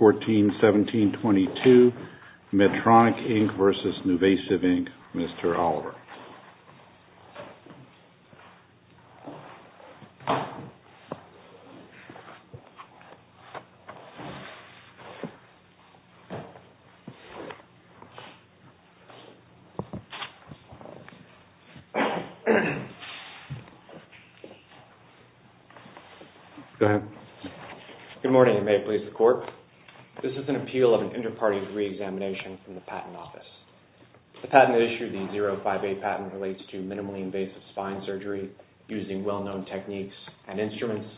141722, Medtronic, Inc. v. NuVasive, Inc., Mr. Oliver. Go ahead. Good morning, and may it please the Court. This is an appeal of an inter-party re-examination from the Patent Office. The patent issued, the 058 patent, relates to minimally invasive spine surgery using well-known techniques and instruments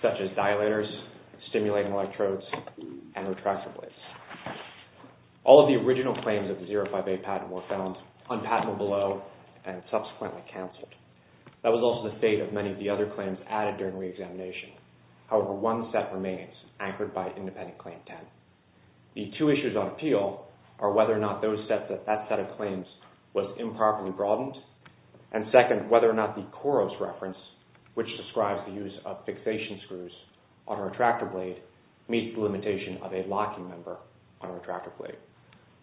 such as dilators, stimulating electrodes, and retractor blades. All of the original claims of the 058 patent were found unpatentable and subsequently canceled. That was also the fate of many of the other claims added during re-examination. However, one set remains, anchored by Independent Claim 10. The two issues on appeal are whether or not that set of claims was improperly broadened, and second, whether or not the Coros reference, which describes the use of fixation screws on a retractor blade, meets the limitation of a locking member on a retractor blade,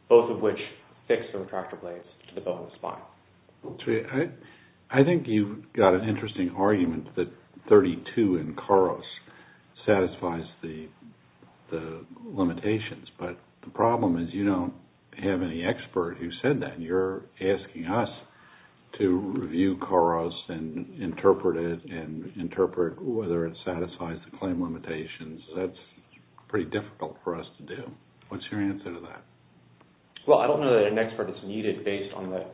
both of which fix the retractor blades to the bone of the spine. I think you've got an interesting argument that 32 in Coros satisfies the limitations, but the problem is you don't have any expert who said that. You're asking us to review Coros and interpret it and interpret whether it satisfies the claim limitations. That's pretty difficult for us to do. What's your answer to that? Well, I don't know that an expert is needed based on the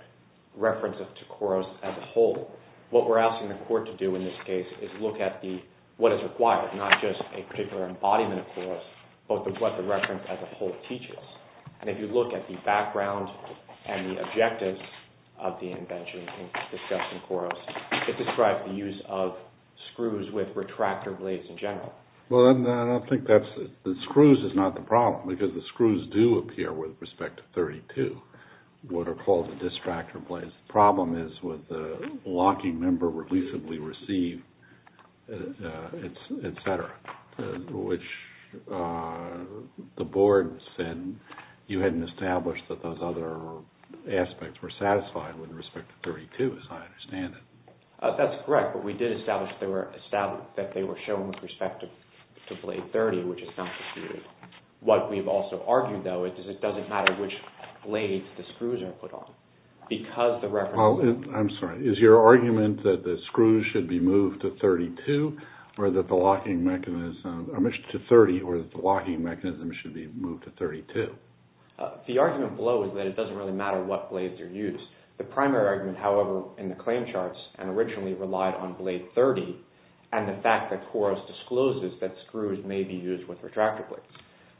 reference to Coros as a whole. What we're asking the court to do in this case is look at what is required, not just a particular embodiment of Coros, but what the reference as a whole teaches. If you look at the background and the objectives of the invention discussed in Coros, it describes the use of screws with retractor blades in general. Well, I don't think that's it. The screws is not the problem, because the screws do appear with respect to 32, what are called the distractor blades. The problem is with the locking member releasably received, et cetera, which the board said you hadn't established that those other aspects were satisfied with respect to 32, as I understand it. That's correct, but we did establish that they were shown with respect to blade 30, which is not disputed. What we've also argued, though, is that it doesn't matter which blades the screws are put on. I'm sorry. Is your argument that the screws should be moved to 32 or that the locking mechanism should be moved to 32? The argument below is that it doesn't really matter what blades are used. The primary argument, however, in the claim charts and originally relied on blade 30 and the fact that Coros discloses that screws may be used with retractor blades.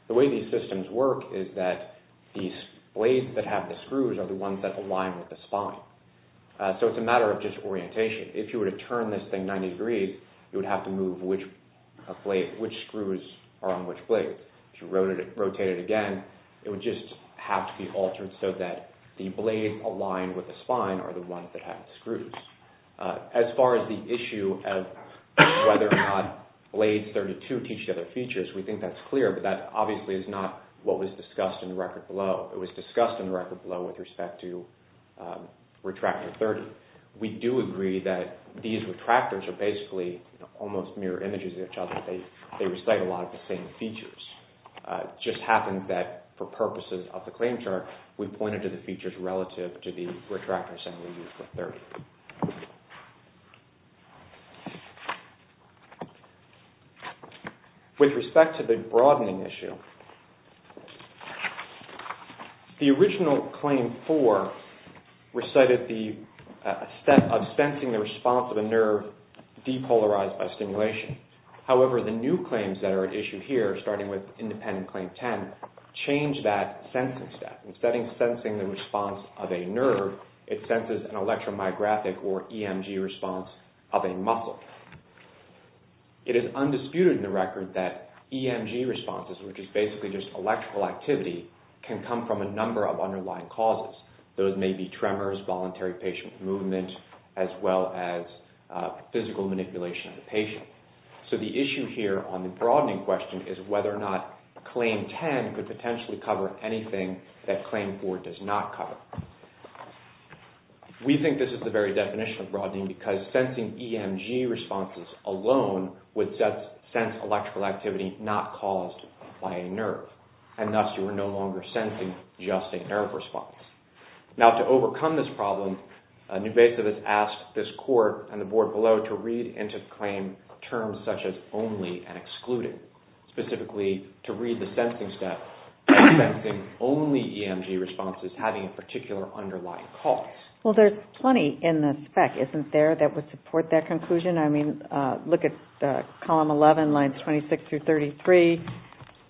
The way these systems work is that these blades that have the screws are the ones that align with the spine. So it's a matter of just orientation. If you were to turn this thing 90 degrees, you would have to move which screws are on which blades. If you rotate it again, it would just have to be altered so that the blades aligned with the spine are the ones that have the screws. As far as the issue of whether or not blades 32 teach the other features, we think that's clear, but that obviously is not what was discussed in the record below. It was discussed in the record below with respect to retractor 30. However, we do agree that these retractors are basically almost mirror images of each other. They recite a lot of the same features. It just happened that for purposes of the claim chart, we pointed to the features relative to the retractors that we used for 30. With respect to the broadening issue, the original claim 4 recited the step of sensing the response of a nerve depolarized by stimulation. However, the new claims that are at issue here, starting with independent claim 10, change that sensing step. Instead of sensing the response of a nerve, it senses an electromyographic or EMG response of a muscle. It is undisputed in the record that EMG responses, which is basically just electrical activity, can come from a number of underlying causes. Those may be tremors, voluntary patient movement, as well as physical manipulation of the patient. The issue here on the broadening question is whether or not claim 10 could potentially cover anything that claim 4 does not cover. We think this is the very definition of broadening because sensing EMG responses alone would sense electrical activity not caused by a nerve. Thus, you are no longer sensing just a nerve response. Now, to overcome this problem, New Basic has asked this court and the board below to read into the claim terms such as only and excluded. Specifically, to read the sensing step of sensing only EMG responses having a particular underlying cause. Well, there's plenty in the spec, isn't there, that would support that conclusion? I mean, look at column 11, lines 26 through 33.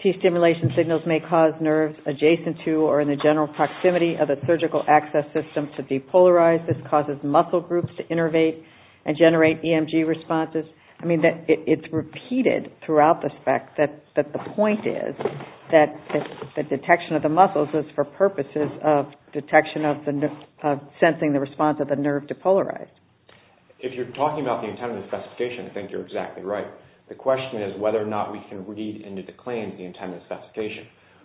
T-stimulation signals may cause nerves adjacent to or in the general proximity of a surgical access system to depolarize. This causes muscle groups to innervate and generate EMG responses. I mean, it's repeated throughout the spec that the point is that the detection of the muscles is for purposes of detection of sensing the response of the nerve depolarized. If you're talking about the intended specification, I think you're exactly right. The question is whether or not we can read into the claim the intended specification.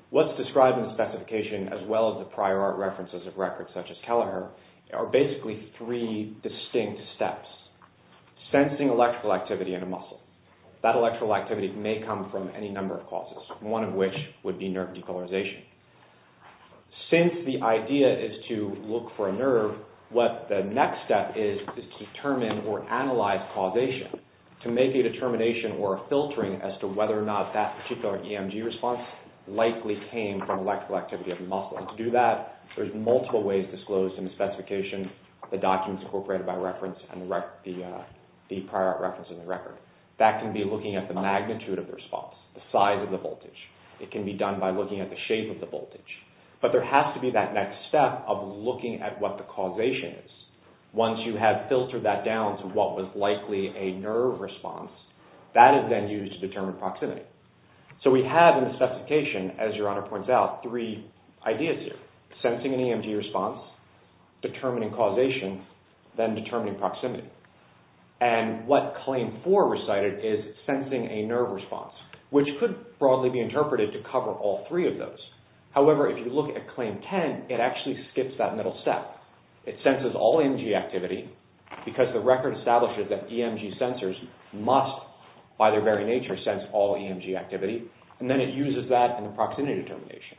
What's described in the specification as well as the prior art references of records such as Kelleher are basically three distinct steps. Sensing electrical activity in a muscle. That electrical activity may come from any number of causes, one of which would be nerve depolarization. Since the idea is to look for a nerve, what the next step is to determine or analyze causation to make a determination or a filtering as to whether or not that particular EMG response likely came from electrical activity of the muscle. And to do that, there's multiple ways disclosed in the specification, the documents incorporated by reference, and the prior art references in the record. That can be looking at the magnitude of the response, the size of the voltage. It can be done by looking at the shape of the voltage. But there has to be that next step of looking at what the causation is. Once you have filtered that down to what was likely a nerve response, that is then used to determine proximity. So we have in the specification, as your honor points out, three ideas here. Sensing an EMG response, determining causation, then determining proximity. And what Claim 4 recited is sensing a nerve response, which could broadly be interpreted to cover all three of those. However, if you look at Claim 10, it actually skips that middle step. It senses all EMG activity because the record establishes that EMG sensors must, by their very nature, sense all EMG activity. And then it uses that in the proximity determination.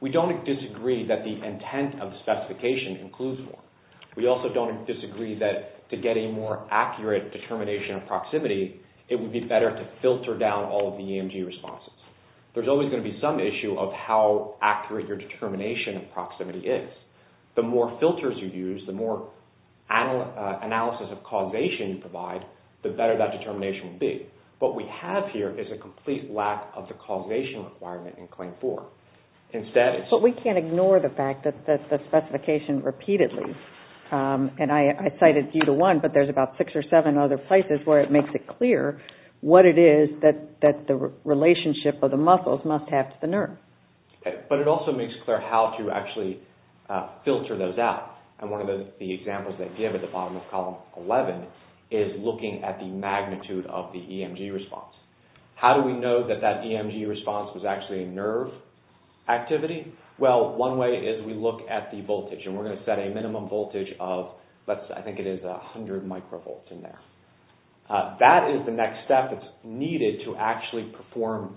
We don't disagree that the intent of the specification includes one. We also don't disagree that to get a more accurate determination of proximity, it would be better to filter down all of the EMG responses. There's always going to be some issue of how accurate your determination of proximity is. The more filters you use, the more analysis of causation you provide, the better that determination will be. What we have here is a complete lack of the causation requirement in Claim 4. But we can't ignore the fact that the specification repeatedly, and I cited view to one, but there's about six or seven other places where it makes it clear what it is that the relationship of the muscles must have to the nerve. But it also makes clear how to actually filter those out. And one of the examples they give at the bottom of Column 11 is looking at the magnitude of the EMG response. How do we know that that EMG response was actually a nerve activity? Well, one way is we look at the voltage. And we're going to set a minimum voltage of, I think it is 100 microvolts in there. That is the next step that's needed to actually perform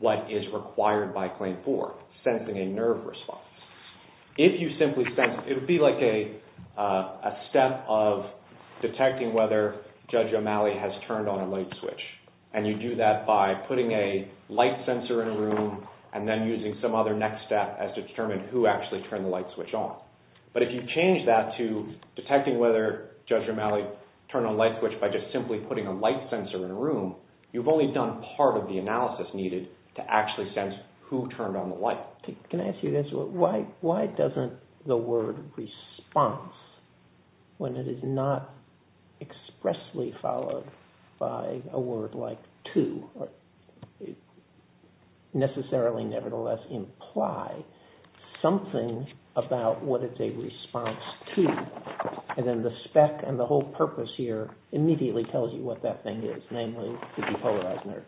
what is required by Claim 4, sensing a nerve response. If you simply sense, it would be like a step of detecting whether Judge O'Malley has turned on a light switch. And you do that by putting a light sensor in a room and then using some other next step as to determine who actually turned the light switch on. But if you change that to detecting whether Judge O'Malley turned on a light switch by just simply putting a light sensor in a room, you've only done part of the analysis needed to actually sense who turned on the light. Can I ask you this? Why doesn't the word response, when it is not expressly followed by a word like to, necessarily nevertheless imply something about what it's a response to? And then the spec and the whole purpose here immediately tells you what that thing is, namely the depolarized nerve.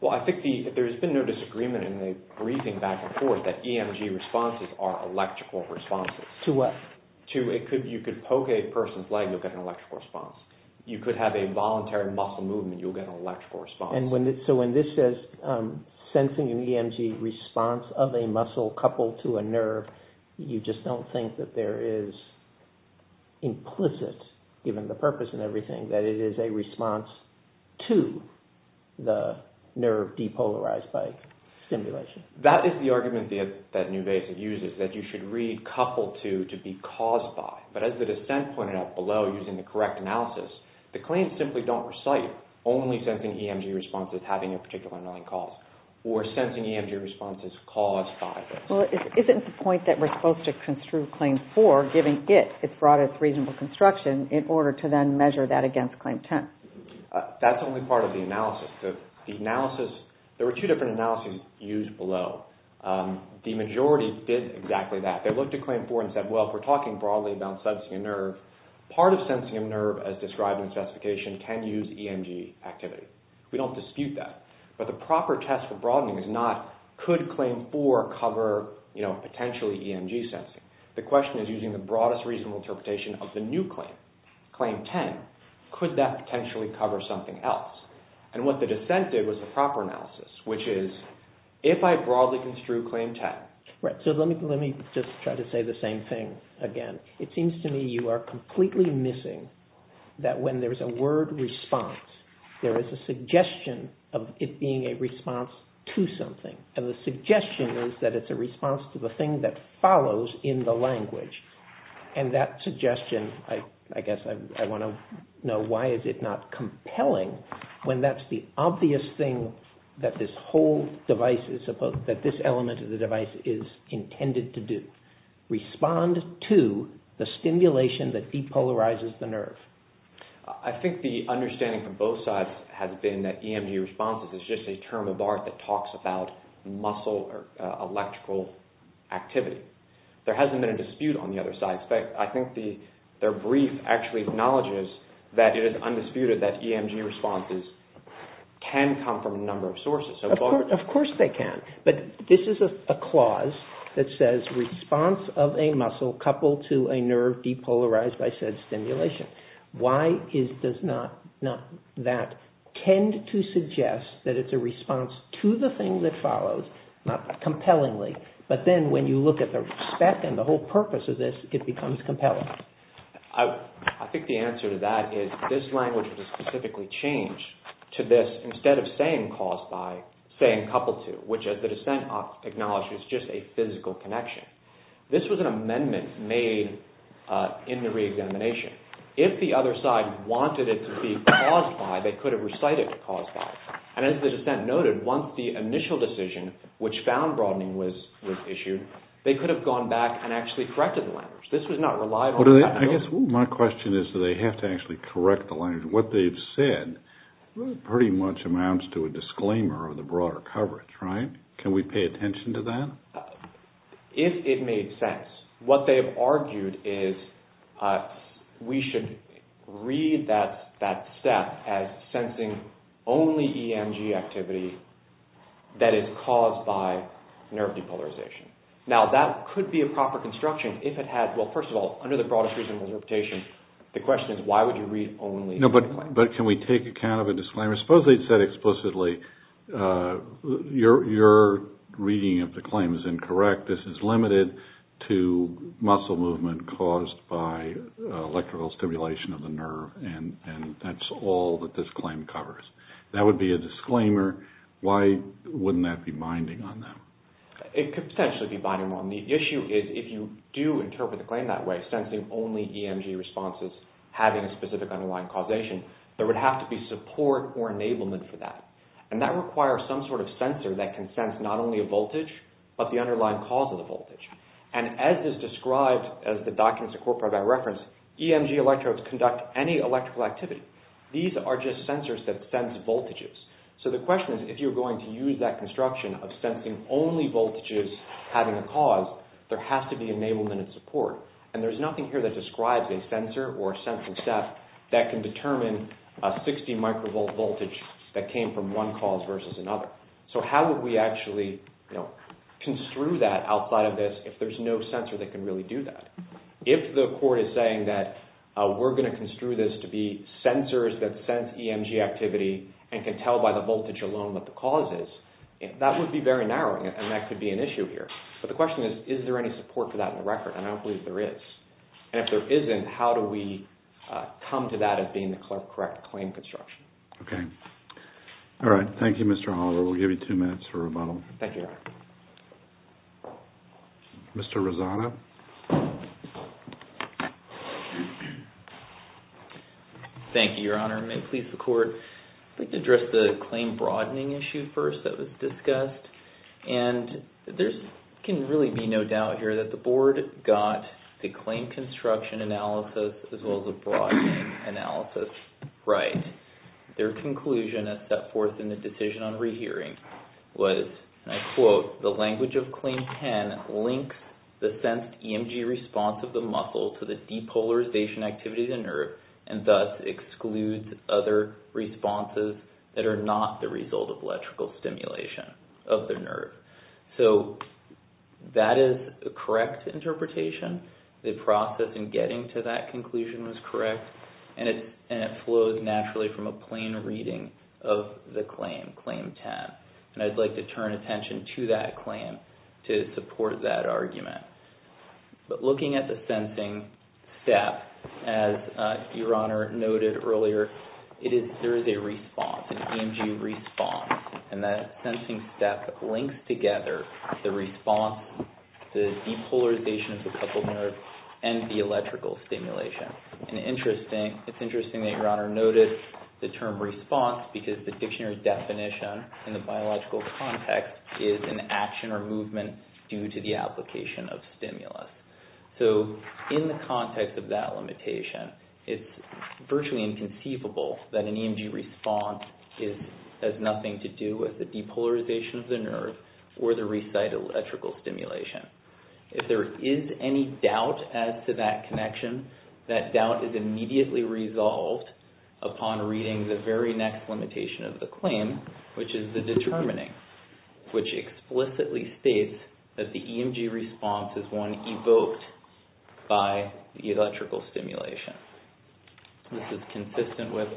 Well, I think there has been no disagreement in the briefing back and forth that EMG responses are electrical responses. To what? You could poke a person's leg, you'll get an electrical response. You could have a voluntary muscle movement, you'll get an electrical response. So when this says sensing an EMG response of a muscle coupled to a nerve, you just don't think that there is implicit, given the purpose and everything, that it is a response to the nerve depolarized by stimulation. That is the argument that New Basic uses, that you should read coupled to to be caused by. But as the dissent pointed out below using the correct analysis, the claims simply don't recite only sensing EMG responses having a particular annoying cause or sensing EMG responses caused by this. Well, isn't the point that we're supposed to construe Claim 4, giving it its broadest reasonable construction in order to then measure that against Claim 10? That's only part of the analysis. The analysis, there were two different analyses used below. The majority did exactly that. They looked at Claim 4 and said, well, if we're talking broadly about sensing a nerve, part of sensing a nerve as described in the specification can use EMG activity. We don't dispute that. But the proper test for broadening is not, could Claim 4 cover potentially EMG sensing? The question is using the broadest reasonable interpretation of the new claim, Claim 10. Could that potentially cover something else? And what the dissent did was the proper analysis, which is, if I broadly construe Claim 10. Right, so let me just try to say the same thing again. It seems to me you are completely missing that when there's a word response, there is a suggestion of it being a response to something. And the suggestion is that it's a response to the thing that follows in the language. And that suggestion, I guess I want to know why is it not compelling when that's the obvious thing that this whole device is supposed, that this element of the device is intended to do. Respond to the stimulation that depolarizes the nerve. I think the understanding from both sides has been that EMG responses is just a term of art that talks about muscle or electrical activity. There hasn't been a dispute on the other side. In fact, I think their brief actually acknowledges that it is undisputed Of course they can. But this is a clause that says response of a muscle coupled to a nerve depolarized by said stimulation. Why does not that tend to suggest that it's a response to the thing that follows, not compellingly, but then when you look at the spec and the whole purpose of this, it becomes compelling. I think the answer to that is this language was specifically changed to this, instead of saying caused by, saying coupled to, which as the dissent acknowledges is just a physical connection. This was an amendment made in the reexamination. If the other side wanted it to be caused by, they could have recited caused by. And as the dissent noted, once the initial decision which found broadening was issued, they could have gone back and actually corrected the language. This was not reliable. I guess my question is that they have to actually correct the language. What they've said pretty much amounts to a disclaimer of the broader coverage, right? Can we pay attention to that? If it made sense. What they've argued is we should read that step as sensing only EMG activity that is caused by nerve depolarization. Now, that could be a proper construction if it had, well, first of all, under the broadest reasonable interpretation, the question is why would you read only this claim? No, but can we take account of a disclaimer? Suppose they'd said explicitly your reading of the claim is incorrect. This is limited to muscle movement caused by electrical stimulation of the nerve, and that's all that this claim covers. That would be a disclaimer. Why wouldn't that be binding on them? It could potentially be binding on them. The issue is if you do interpret the claim that way, sensing only EMG responses having a specific underlying causation, there would have to be support or enablement for that, and that requires some sort of sensor that can sense not only a voltage, but the underlying cause of the voltage, and as is described as the documents incorporated by reference, EMG electrodes conduct any electrical activity. These are just sensors that sense voltages, so the question is if you're going to use that construction of sensing only voltages having a cause, there has to be enablement and support, and there's nothing here that describes a sensor or a sensing staff that can determine a 60 microvolt voltage that came from one cause versus another, so how would we actually construe that outside of this if there's no sensor that can really do that? If the court is saying that we're going to construe this to be sensors that sense EMG activity and can tell by the voltage alone what the cause is, that would be very narrowing and that could be an issue here, but the question is is there any support for that in the record, and I don't believe there is, and if there isn't, how do we come to that as being the correct claim construction? Okay. All right. Thank you, Mr. Holler. We'll give you two minutes for rebuttal. Thank you, Your Honor. Mr. Rosado. Thank you, Your Honor. May it please the court. I'd like to address the claim broadening issue first that was discussed, and there can really be no doubt here that the board got the claim construction analysis as well as the broadening analysis right. Their conclusion as set forth in the decision on rehearing was, and I quote, the language of Claim 10 links the sensed EMG response of the muscle to the depolarization activity of the nerve and thus excludes other responses that are not the result of electrical stimulation of the nerve. So that is a correct interpretation. The process in getting to that conclusion was correct, and it flows naturally from a plain reading of the claim, Claim 10, and I'd like to turn attention to that claim to support that argument. But looking at the sensing step, as Your Honor noted earlier, there is a response, an EMG response, and that sensing step links together the response, the depolarization of the coupled nerve, and the electrical stimulation. It's interesting that Your Honor noted the term response because the dictionary definition in the biological context is an action or movement due to the application of stimulus. So in the context of that limitation, it's virtually inconceivable that an EMG response has nothing to do with the depolarization of the nerve or the recite electrical stimulation. If there is any doubt as to that connection, that doubt is immediately resolved upon reading the very next limitation of the claim, which is the determining, which explicitly states that the EMG response is one evoked by the electrical stimulation. This is consistent with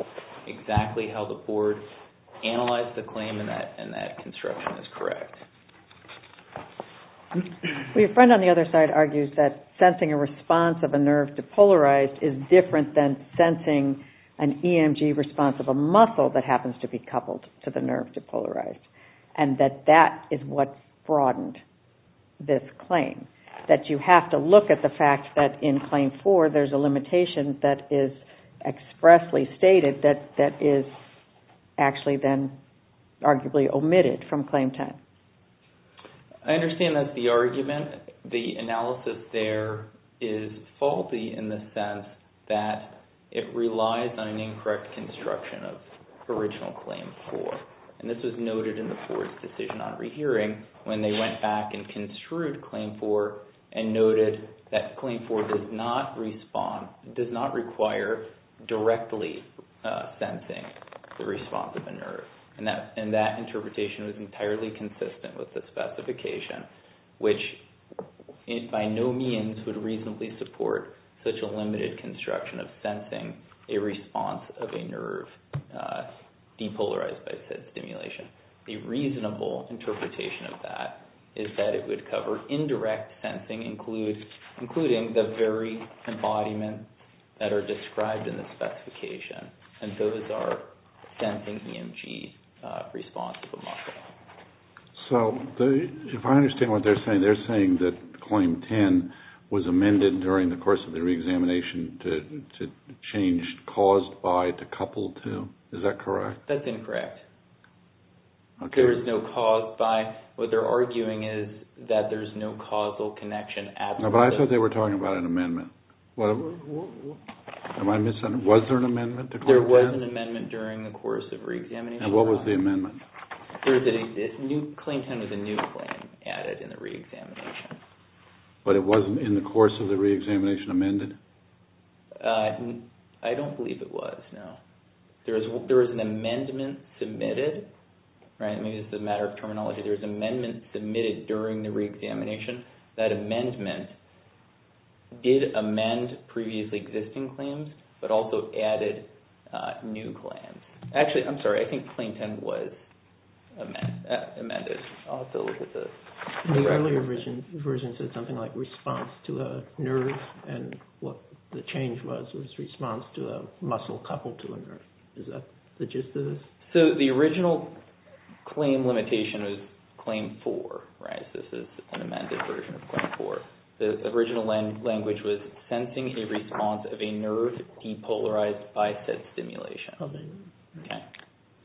exactly how the board analyzed the claim and that construction is correct. Your friend on the other side argues that sensing a response of a nerve depolarized is different than sensing an EMG response of a muscle that happens to be coupled to the nerve depolarized, and that that is what broadened this claim. That you have to look at the fact that in Claim 4, there's a limitation that is expressly stated that is actually then arguably omitted from Claim 10. I understand that's the argument. The analysis there is faulty in the sense that it relies on an incorrect construction of original Claim 4, and this was noted in the board's decision on rehearing when they went back and construed Claim 4 and noted that Claim 4 does not require directly sensing the response of a nerve. And that interpretation was entirely consistent with the specification, which by no means would reasonably support such a limited construction of sensing a response of a nerve depolarized by said stimulation. A reasonable interpretation of that is that it would cover indirect sensing, including the very embodiments that are described in the specification, and those are sensing EMG response of a muscle. So if I understand what they're saying, they're saying that Claim 10 was amended during the course of the reexamination to change caused by to coupled to. Is that correct? That's incorrect. There is no caused by. What they're arguing is that there's no causal connection at all. No, but I thought they were talking about an amendment. Was there an amendment to Claim 10? There was an amendment during the course of reexamination. And what was the amendment? Claim 10 was a new claim added in the reexamination. But it wasn't in the course of the reexamination amended? I don't believe it was, no. There was an amendment submitted. Maybe this is a matter of terminology. There was an amendment submitted during the reexamination. That amendment did amend previously existing claims, but also added new claims. Actually, I'm sorry, I think Claim 10 was amended. I'll have to look at this. The earlier version said something like response to a nerve, and what the change was was response to a muscle coupled to a nerve. Is that the gist of this? So the original claim limitation was Claim 4, right? This is an amended version of Claim 4. The original language was sensing a response of a nerve depolarized by said stimulation. Okay.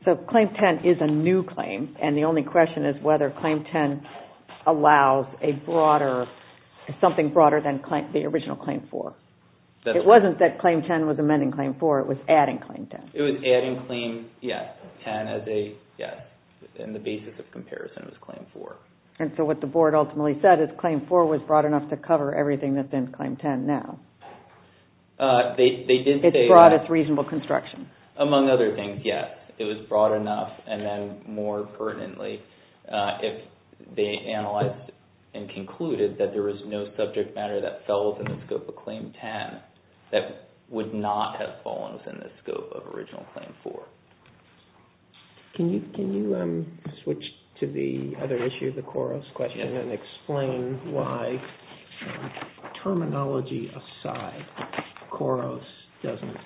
So Claim 10 is a new claim, and the only question is whether Claim 10 allows a broader, something broader than the original Claim 4. It wasn't that Claim 10 was amending Claim 4, it was adding Claim 10. It was adding Claim 10 as a, yes, and the basis of comparison was Claim 4. And so what the board ultimately said is Claim 4 was broad enough to cover everything that's in Claim 10 now. They did say that. It's broad, it's reasonable construction. Among other things, yes. It was broad enough, and then more pertinently, if they analyzed and concluded that there was no subject matter that fell within the scope of Claim 10, that would not have fallen within the scope of original Claim 4. Can you switch to the other issue, the KOROS question, and explain why, terminology aside, KOROS doesn't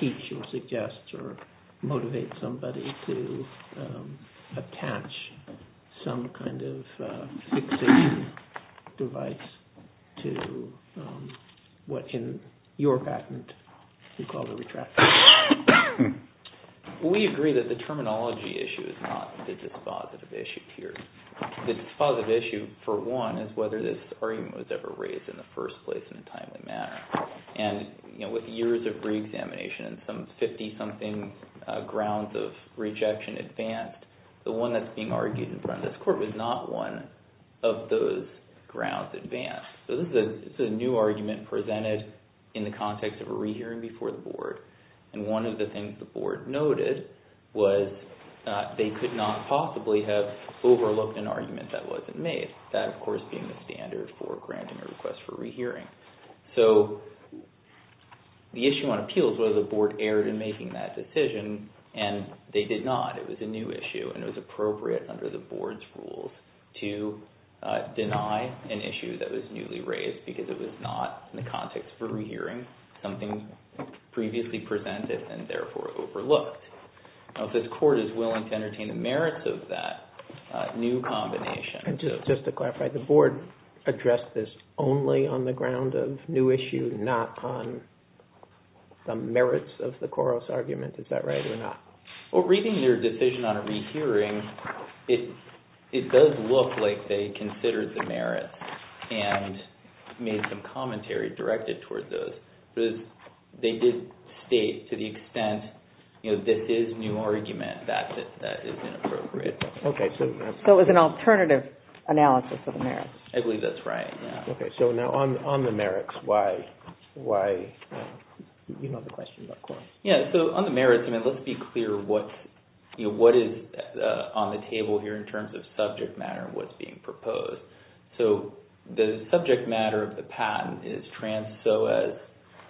teach or suggest or motivate somebody to attach some kind of fixation device to what, in your patent, you call the retractor. We agree that the terminology issue is not the dispositive issue here. The dispositive issue, for one, is whether this argument was ever raised in the first place in a timely manner. And with years of reexamination and some 50-something grounds of rejection advanced, the one that's being argued in front of this Court was not one of those grounds advanced. So this is a new argument presented in the context of a rehearing before the Board, and one of the things the Board noted was they could not possibly have overlooked an argument that wasn't made, that, of course, being the standard for granting a request for rehearing. So the issue on appeals was the Board erred in making that decision, and they did not. It was a new issue, and it was appropriate under the Board's rules to deny an issue that was newly raised because it was not in the context of a rehearing, something previously presented and therefore overlooked. Now, if this Court is willing to entertain the merits of that new combination... And just to clarify, the Board addressed this only on the ground of new issue, not on the merits of the KOROS argument. Is that right or not? Well, reading their decision on a rehearing, it does look like they considered the merits and made some commentary directed towards those. But they did state to the extent, you know, this is new argument, that is inappropriate. Okay, so... So it was an alternative analysis of the merits. I believe that's right, yeah. Okay, so now on the merits, why... you know the question about KOROS. Yeah, so on the merits, I mean, let's be clear what is on the table here in terms of subject matter and what's being proposed. So the subject matter of the patent is trans psoas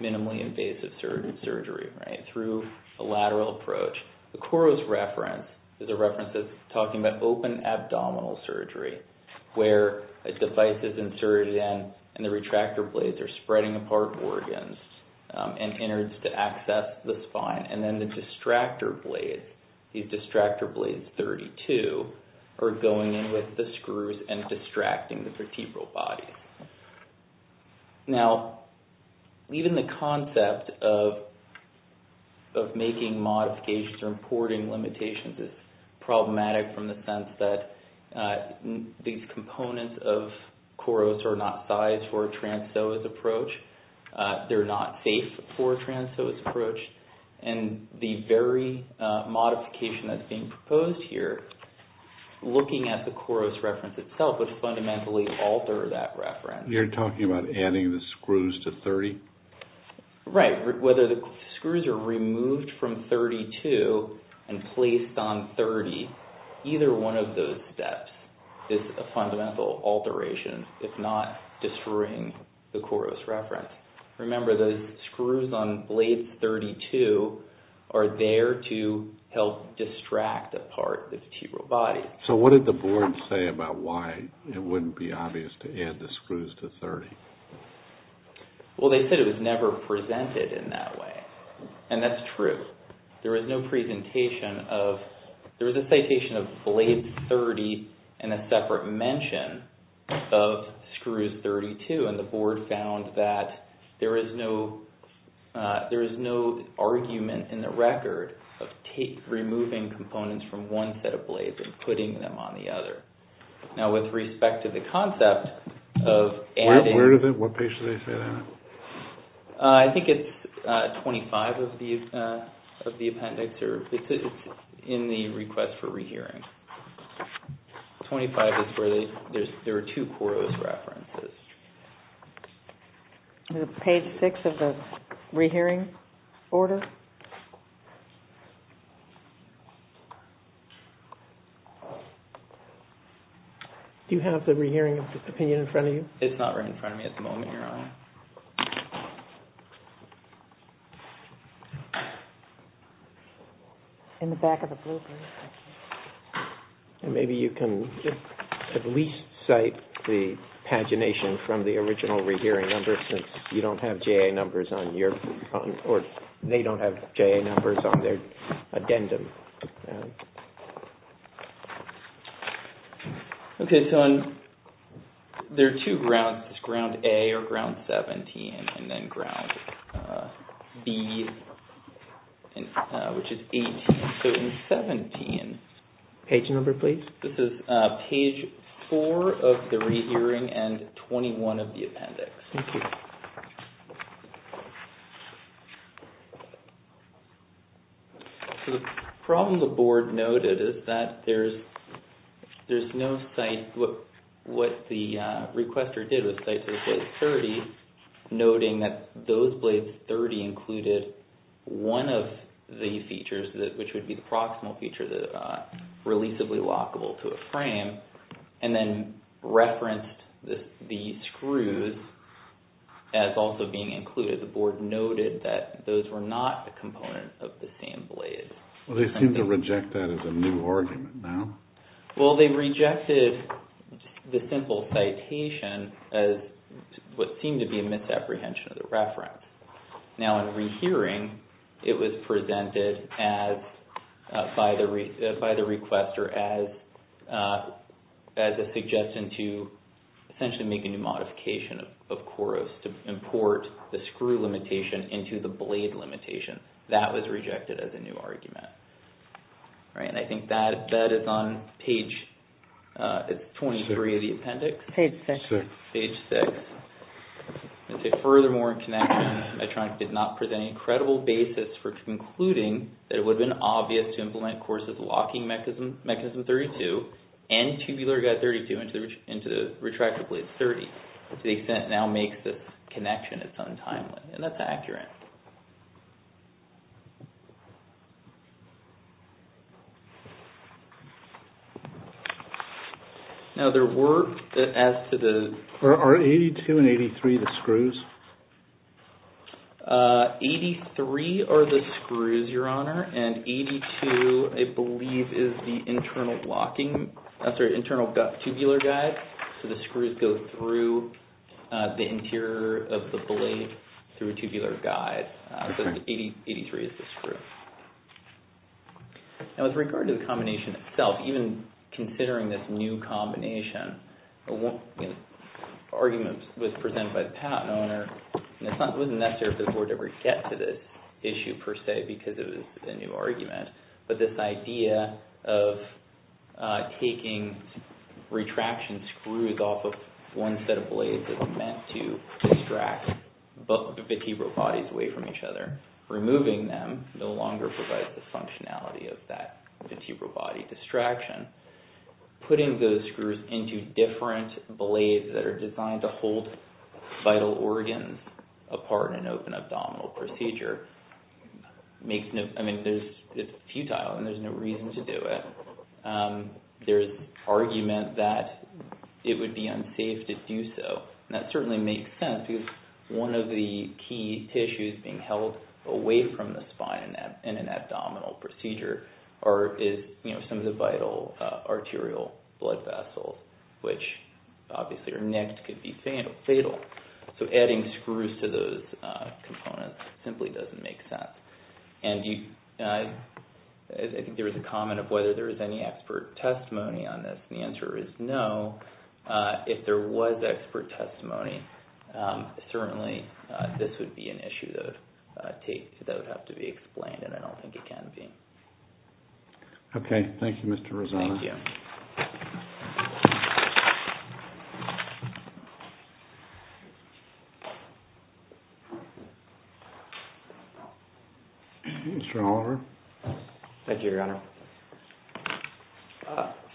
minimally invasive surgery, right, through a lateral approach. The KOROS reference is a reference that's talking about open abdominal surgery where a device is inserted in, and the retractor blades are spreading apart organs and innards to access the spine. And then the distractor blades, these distractor blades 32, are going in with the screws and distracting the vertebral body. Now, even the concept of making modifications or importing limitations is problematic from the sense that these components of KOROS are not sized for a trans psoas approach. They're not safe for a trans psoas approach. And the very modification that's being proposed here, looking at the KOROS reference itself would fundamentally alter that reference. You're talking about adding the screws to 30? Right, whether the screws are removed from 32 and placed on 30, either one of those steps is a fundamental alteration if not destroying the KOROS reference. Remember, the screws on blade 32 are there to help distract a part of the vertebral body. So what did the board say about why it wouldn't be obvious to add the screws to 30? Well, they said it was never presented in that way. And that's true. There is no presentation of... There is no separate mention of screws 32, and the board found that there is no argument in the record of removing components from one set of blades and putting them on the other. Now, with respect to the concept of adding... Where do they... What page do they say that on? I think it's 25 of the appendix, or it's in the request for rehearing. 25 is where there are two KOROS references. Page 6 of the rehearing order? Do you have the rehearing opinion in front of you? It's not right in front of me at the moment, Your Honor. In the back of the blueprint. Maybe you can at least cite the pagination from the original rehearing number since you don't have J.A. numbers on your... Or they don't have J.A. numbers on their addendum. Okay, so there are two grounds. There's ground A or ground 17, and then ground B, which is 18. So in 17... Page number, please. This is page 4 of the rehearing and 21 of the appendix. Thank you. So the problem the board noted is that there's no cite... What the requester did was cite to the plate 30, noting that those plates 30 included one of the features, which would be the proximal feature, the releasably lockable to a frame, and then referenced the screws as also being included. The board noted that those were not components of the same blade. Well, they seem to reject that as a new argument now. Well, they rejected the simple citation as what seemed to be a misapprehension of the reference. Now, in rehearing, it was presented by the requester as a suggestion to essentially make a new modification of KOROS to import the screw limitation into the blade limitation. That was rejected as a new argument. And I think that is on page... It's 23 of the appendix. Page 6. Page 6. Furthermore, in connection, Medtronic did not present a credible basis for concluding that it would have been obvious to implement KOROS's locking mechanism 32 and tubular guide 32 into the retractable plate 30 to the extent it now makes this connection as untimely. And that's accurate. Now, there were, as to the... Are 82 and 83 the screws? 83 are the screws, Your Honor, and 82, I believe, is the internal locking... I'm sorry, internal tubular guide. So the screws go through the interior of the blade through a tubular guide. But 83 is the screw. Now, with regard to the combination itself, even considering this new combination, the argument was presented by the patent owner. It wasn't necessary for the board to ever get to this issue, per se, because it was a new argument. But this idea of taking retraction screws off of one set of blades is meant to distract both of the vertebral bodies away from each other, and removing them no longer provides the functionality of that vertebral body distraction. Putting those screws into different blades that are designed to hold vital organs apart in an open abdominal procedure makes no... I mean, it's futile, and there's no reason to do it. There's argument that it would be unsafe to do so. And that certainly makes sense, because one of the key tissues being held away from the spine in an abdominal procedure are some of the vital arterial blood vessels, which obviously are nicked, could be fatal. So adding screws to those components simply doesn't make sense. And I think there was a comment of whether there was any expert testimony on this, and the answer is no. If there was expert testimony, certainly this would be an issue that would have to be explained, and I don't think it can be. Okay. Thank you, Mr. Rosano. Thank you. Mr. Oliver. Thank you, Your Honor.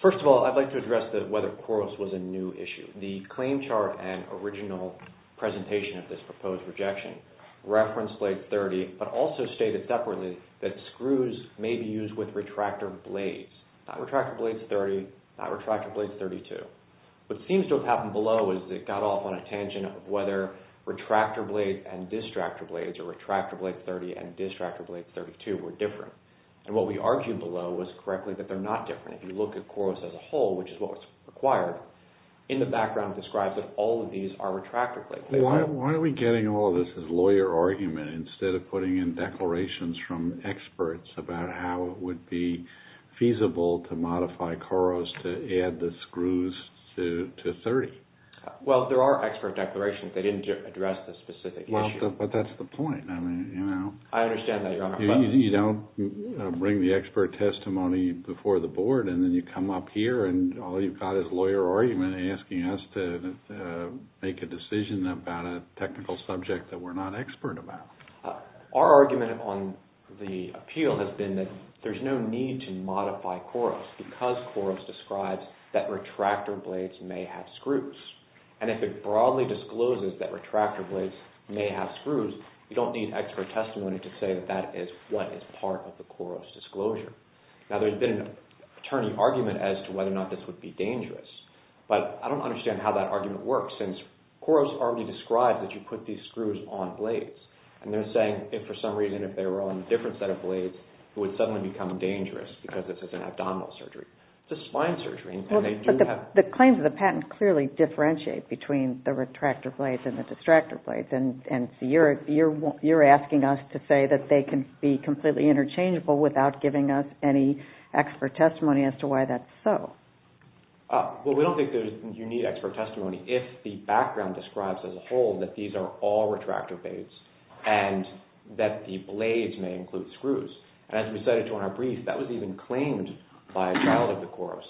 First of all, I'd like to address whether Coros was a new issue. The claim chart and original presentation of this proposed rejection referenced Blade 30, but also stated separately that screws may be used with retractor blades. Not Retractor Blade 30, not Retractor Blade 32. What seems to have happened below is it got off on a tangent of whether Retractor Blade and Distractor Blades or Retractor Blade 30 and Distractor Blade 32 were different. And what we argued below was correctly that they're not different. If you look at Coros as a whole, which is what was required, in the background it describes that all of these are Retractor Blade. Why are we getting all of this as lawyer argument instead of putting in declarations from experts about how it would be feasible to modify Coros to add the screws to 30? Well, there are expert declarations. They didn't address the specific issue. But that's the point. I understand that, Your Honor. You don't bring the expert testimony before the board, and then you come up here and all you've got is lawyer argument asking us to make a decision about a technical subject that we're not expert about. Our argument on the appeal has been that there's no need to modify Coros because Coros describes that Retractor Blades may have screws. And if it broadly discloses that Retractor Blades may have screws, you don't need expert testimony to say that that is what is part of the Coros disclosure. Now, there's been an attorney argument as to whether or not this would be dangerous, but I don't understand how that argument works since Coros already described that you put these screws on blades. And they're saying if for some reason if they were on a different set of blades, it would suddenly become dangerous because this is an abdominal surgery. It's a spine surgery. But the claims of the patent clearly differentiate between the Retractor Blades and the Distractor Blades. And you're asking us to say that they can be completely interchangeable without giving us any expert testimony as to why that's so. Well, we don't think that you need expert testimony if the background describes as a whole that these are all Retractor Blades and that the blades may include screws. As we cited on our brief, that was even claimed by a child of the Coros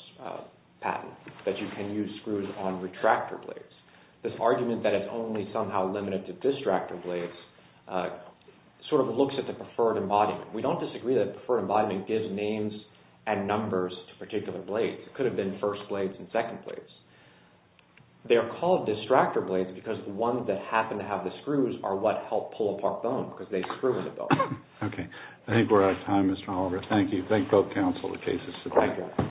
patent, that you can use screws on Retractor Blades. This argument that it's only somehow limited to Distractor Blades sort of looks at the preferred embodiment. We don't disagree that the preferred embodiment gives names and numbers to particular blades. It could have been first blades and second blades. They're called Distractor Blades because the ones that happen to have the screws are what help pull apart bone because they screw in the bone. Okay. I think we're out of time, Mr. Oliver. Thank you. Thank both counsel in the cases today. Thank you.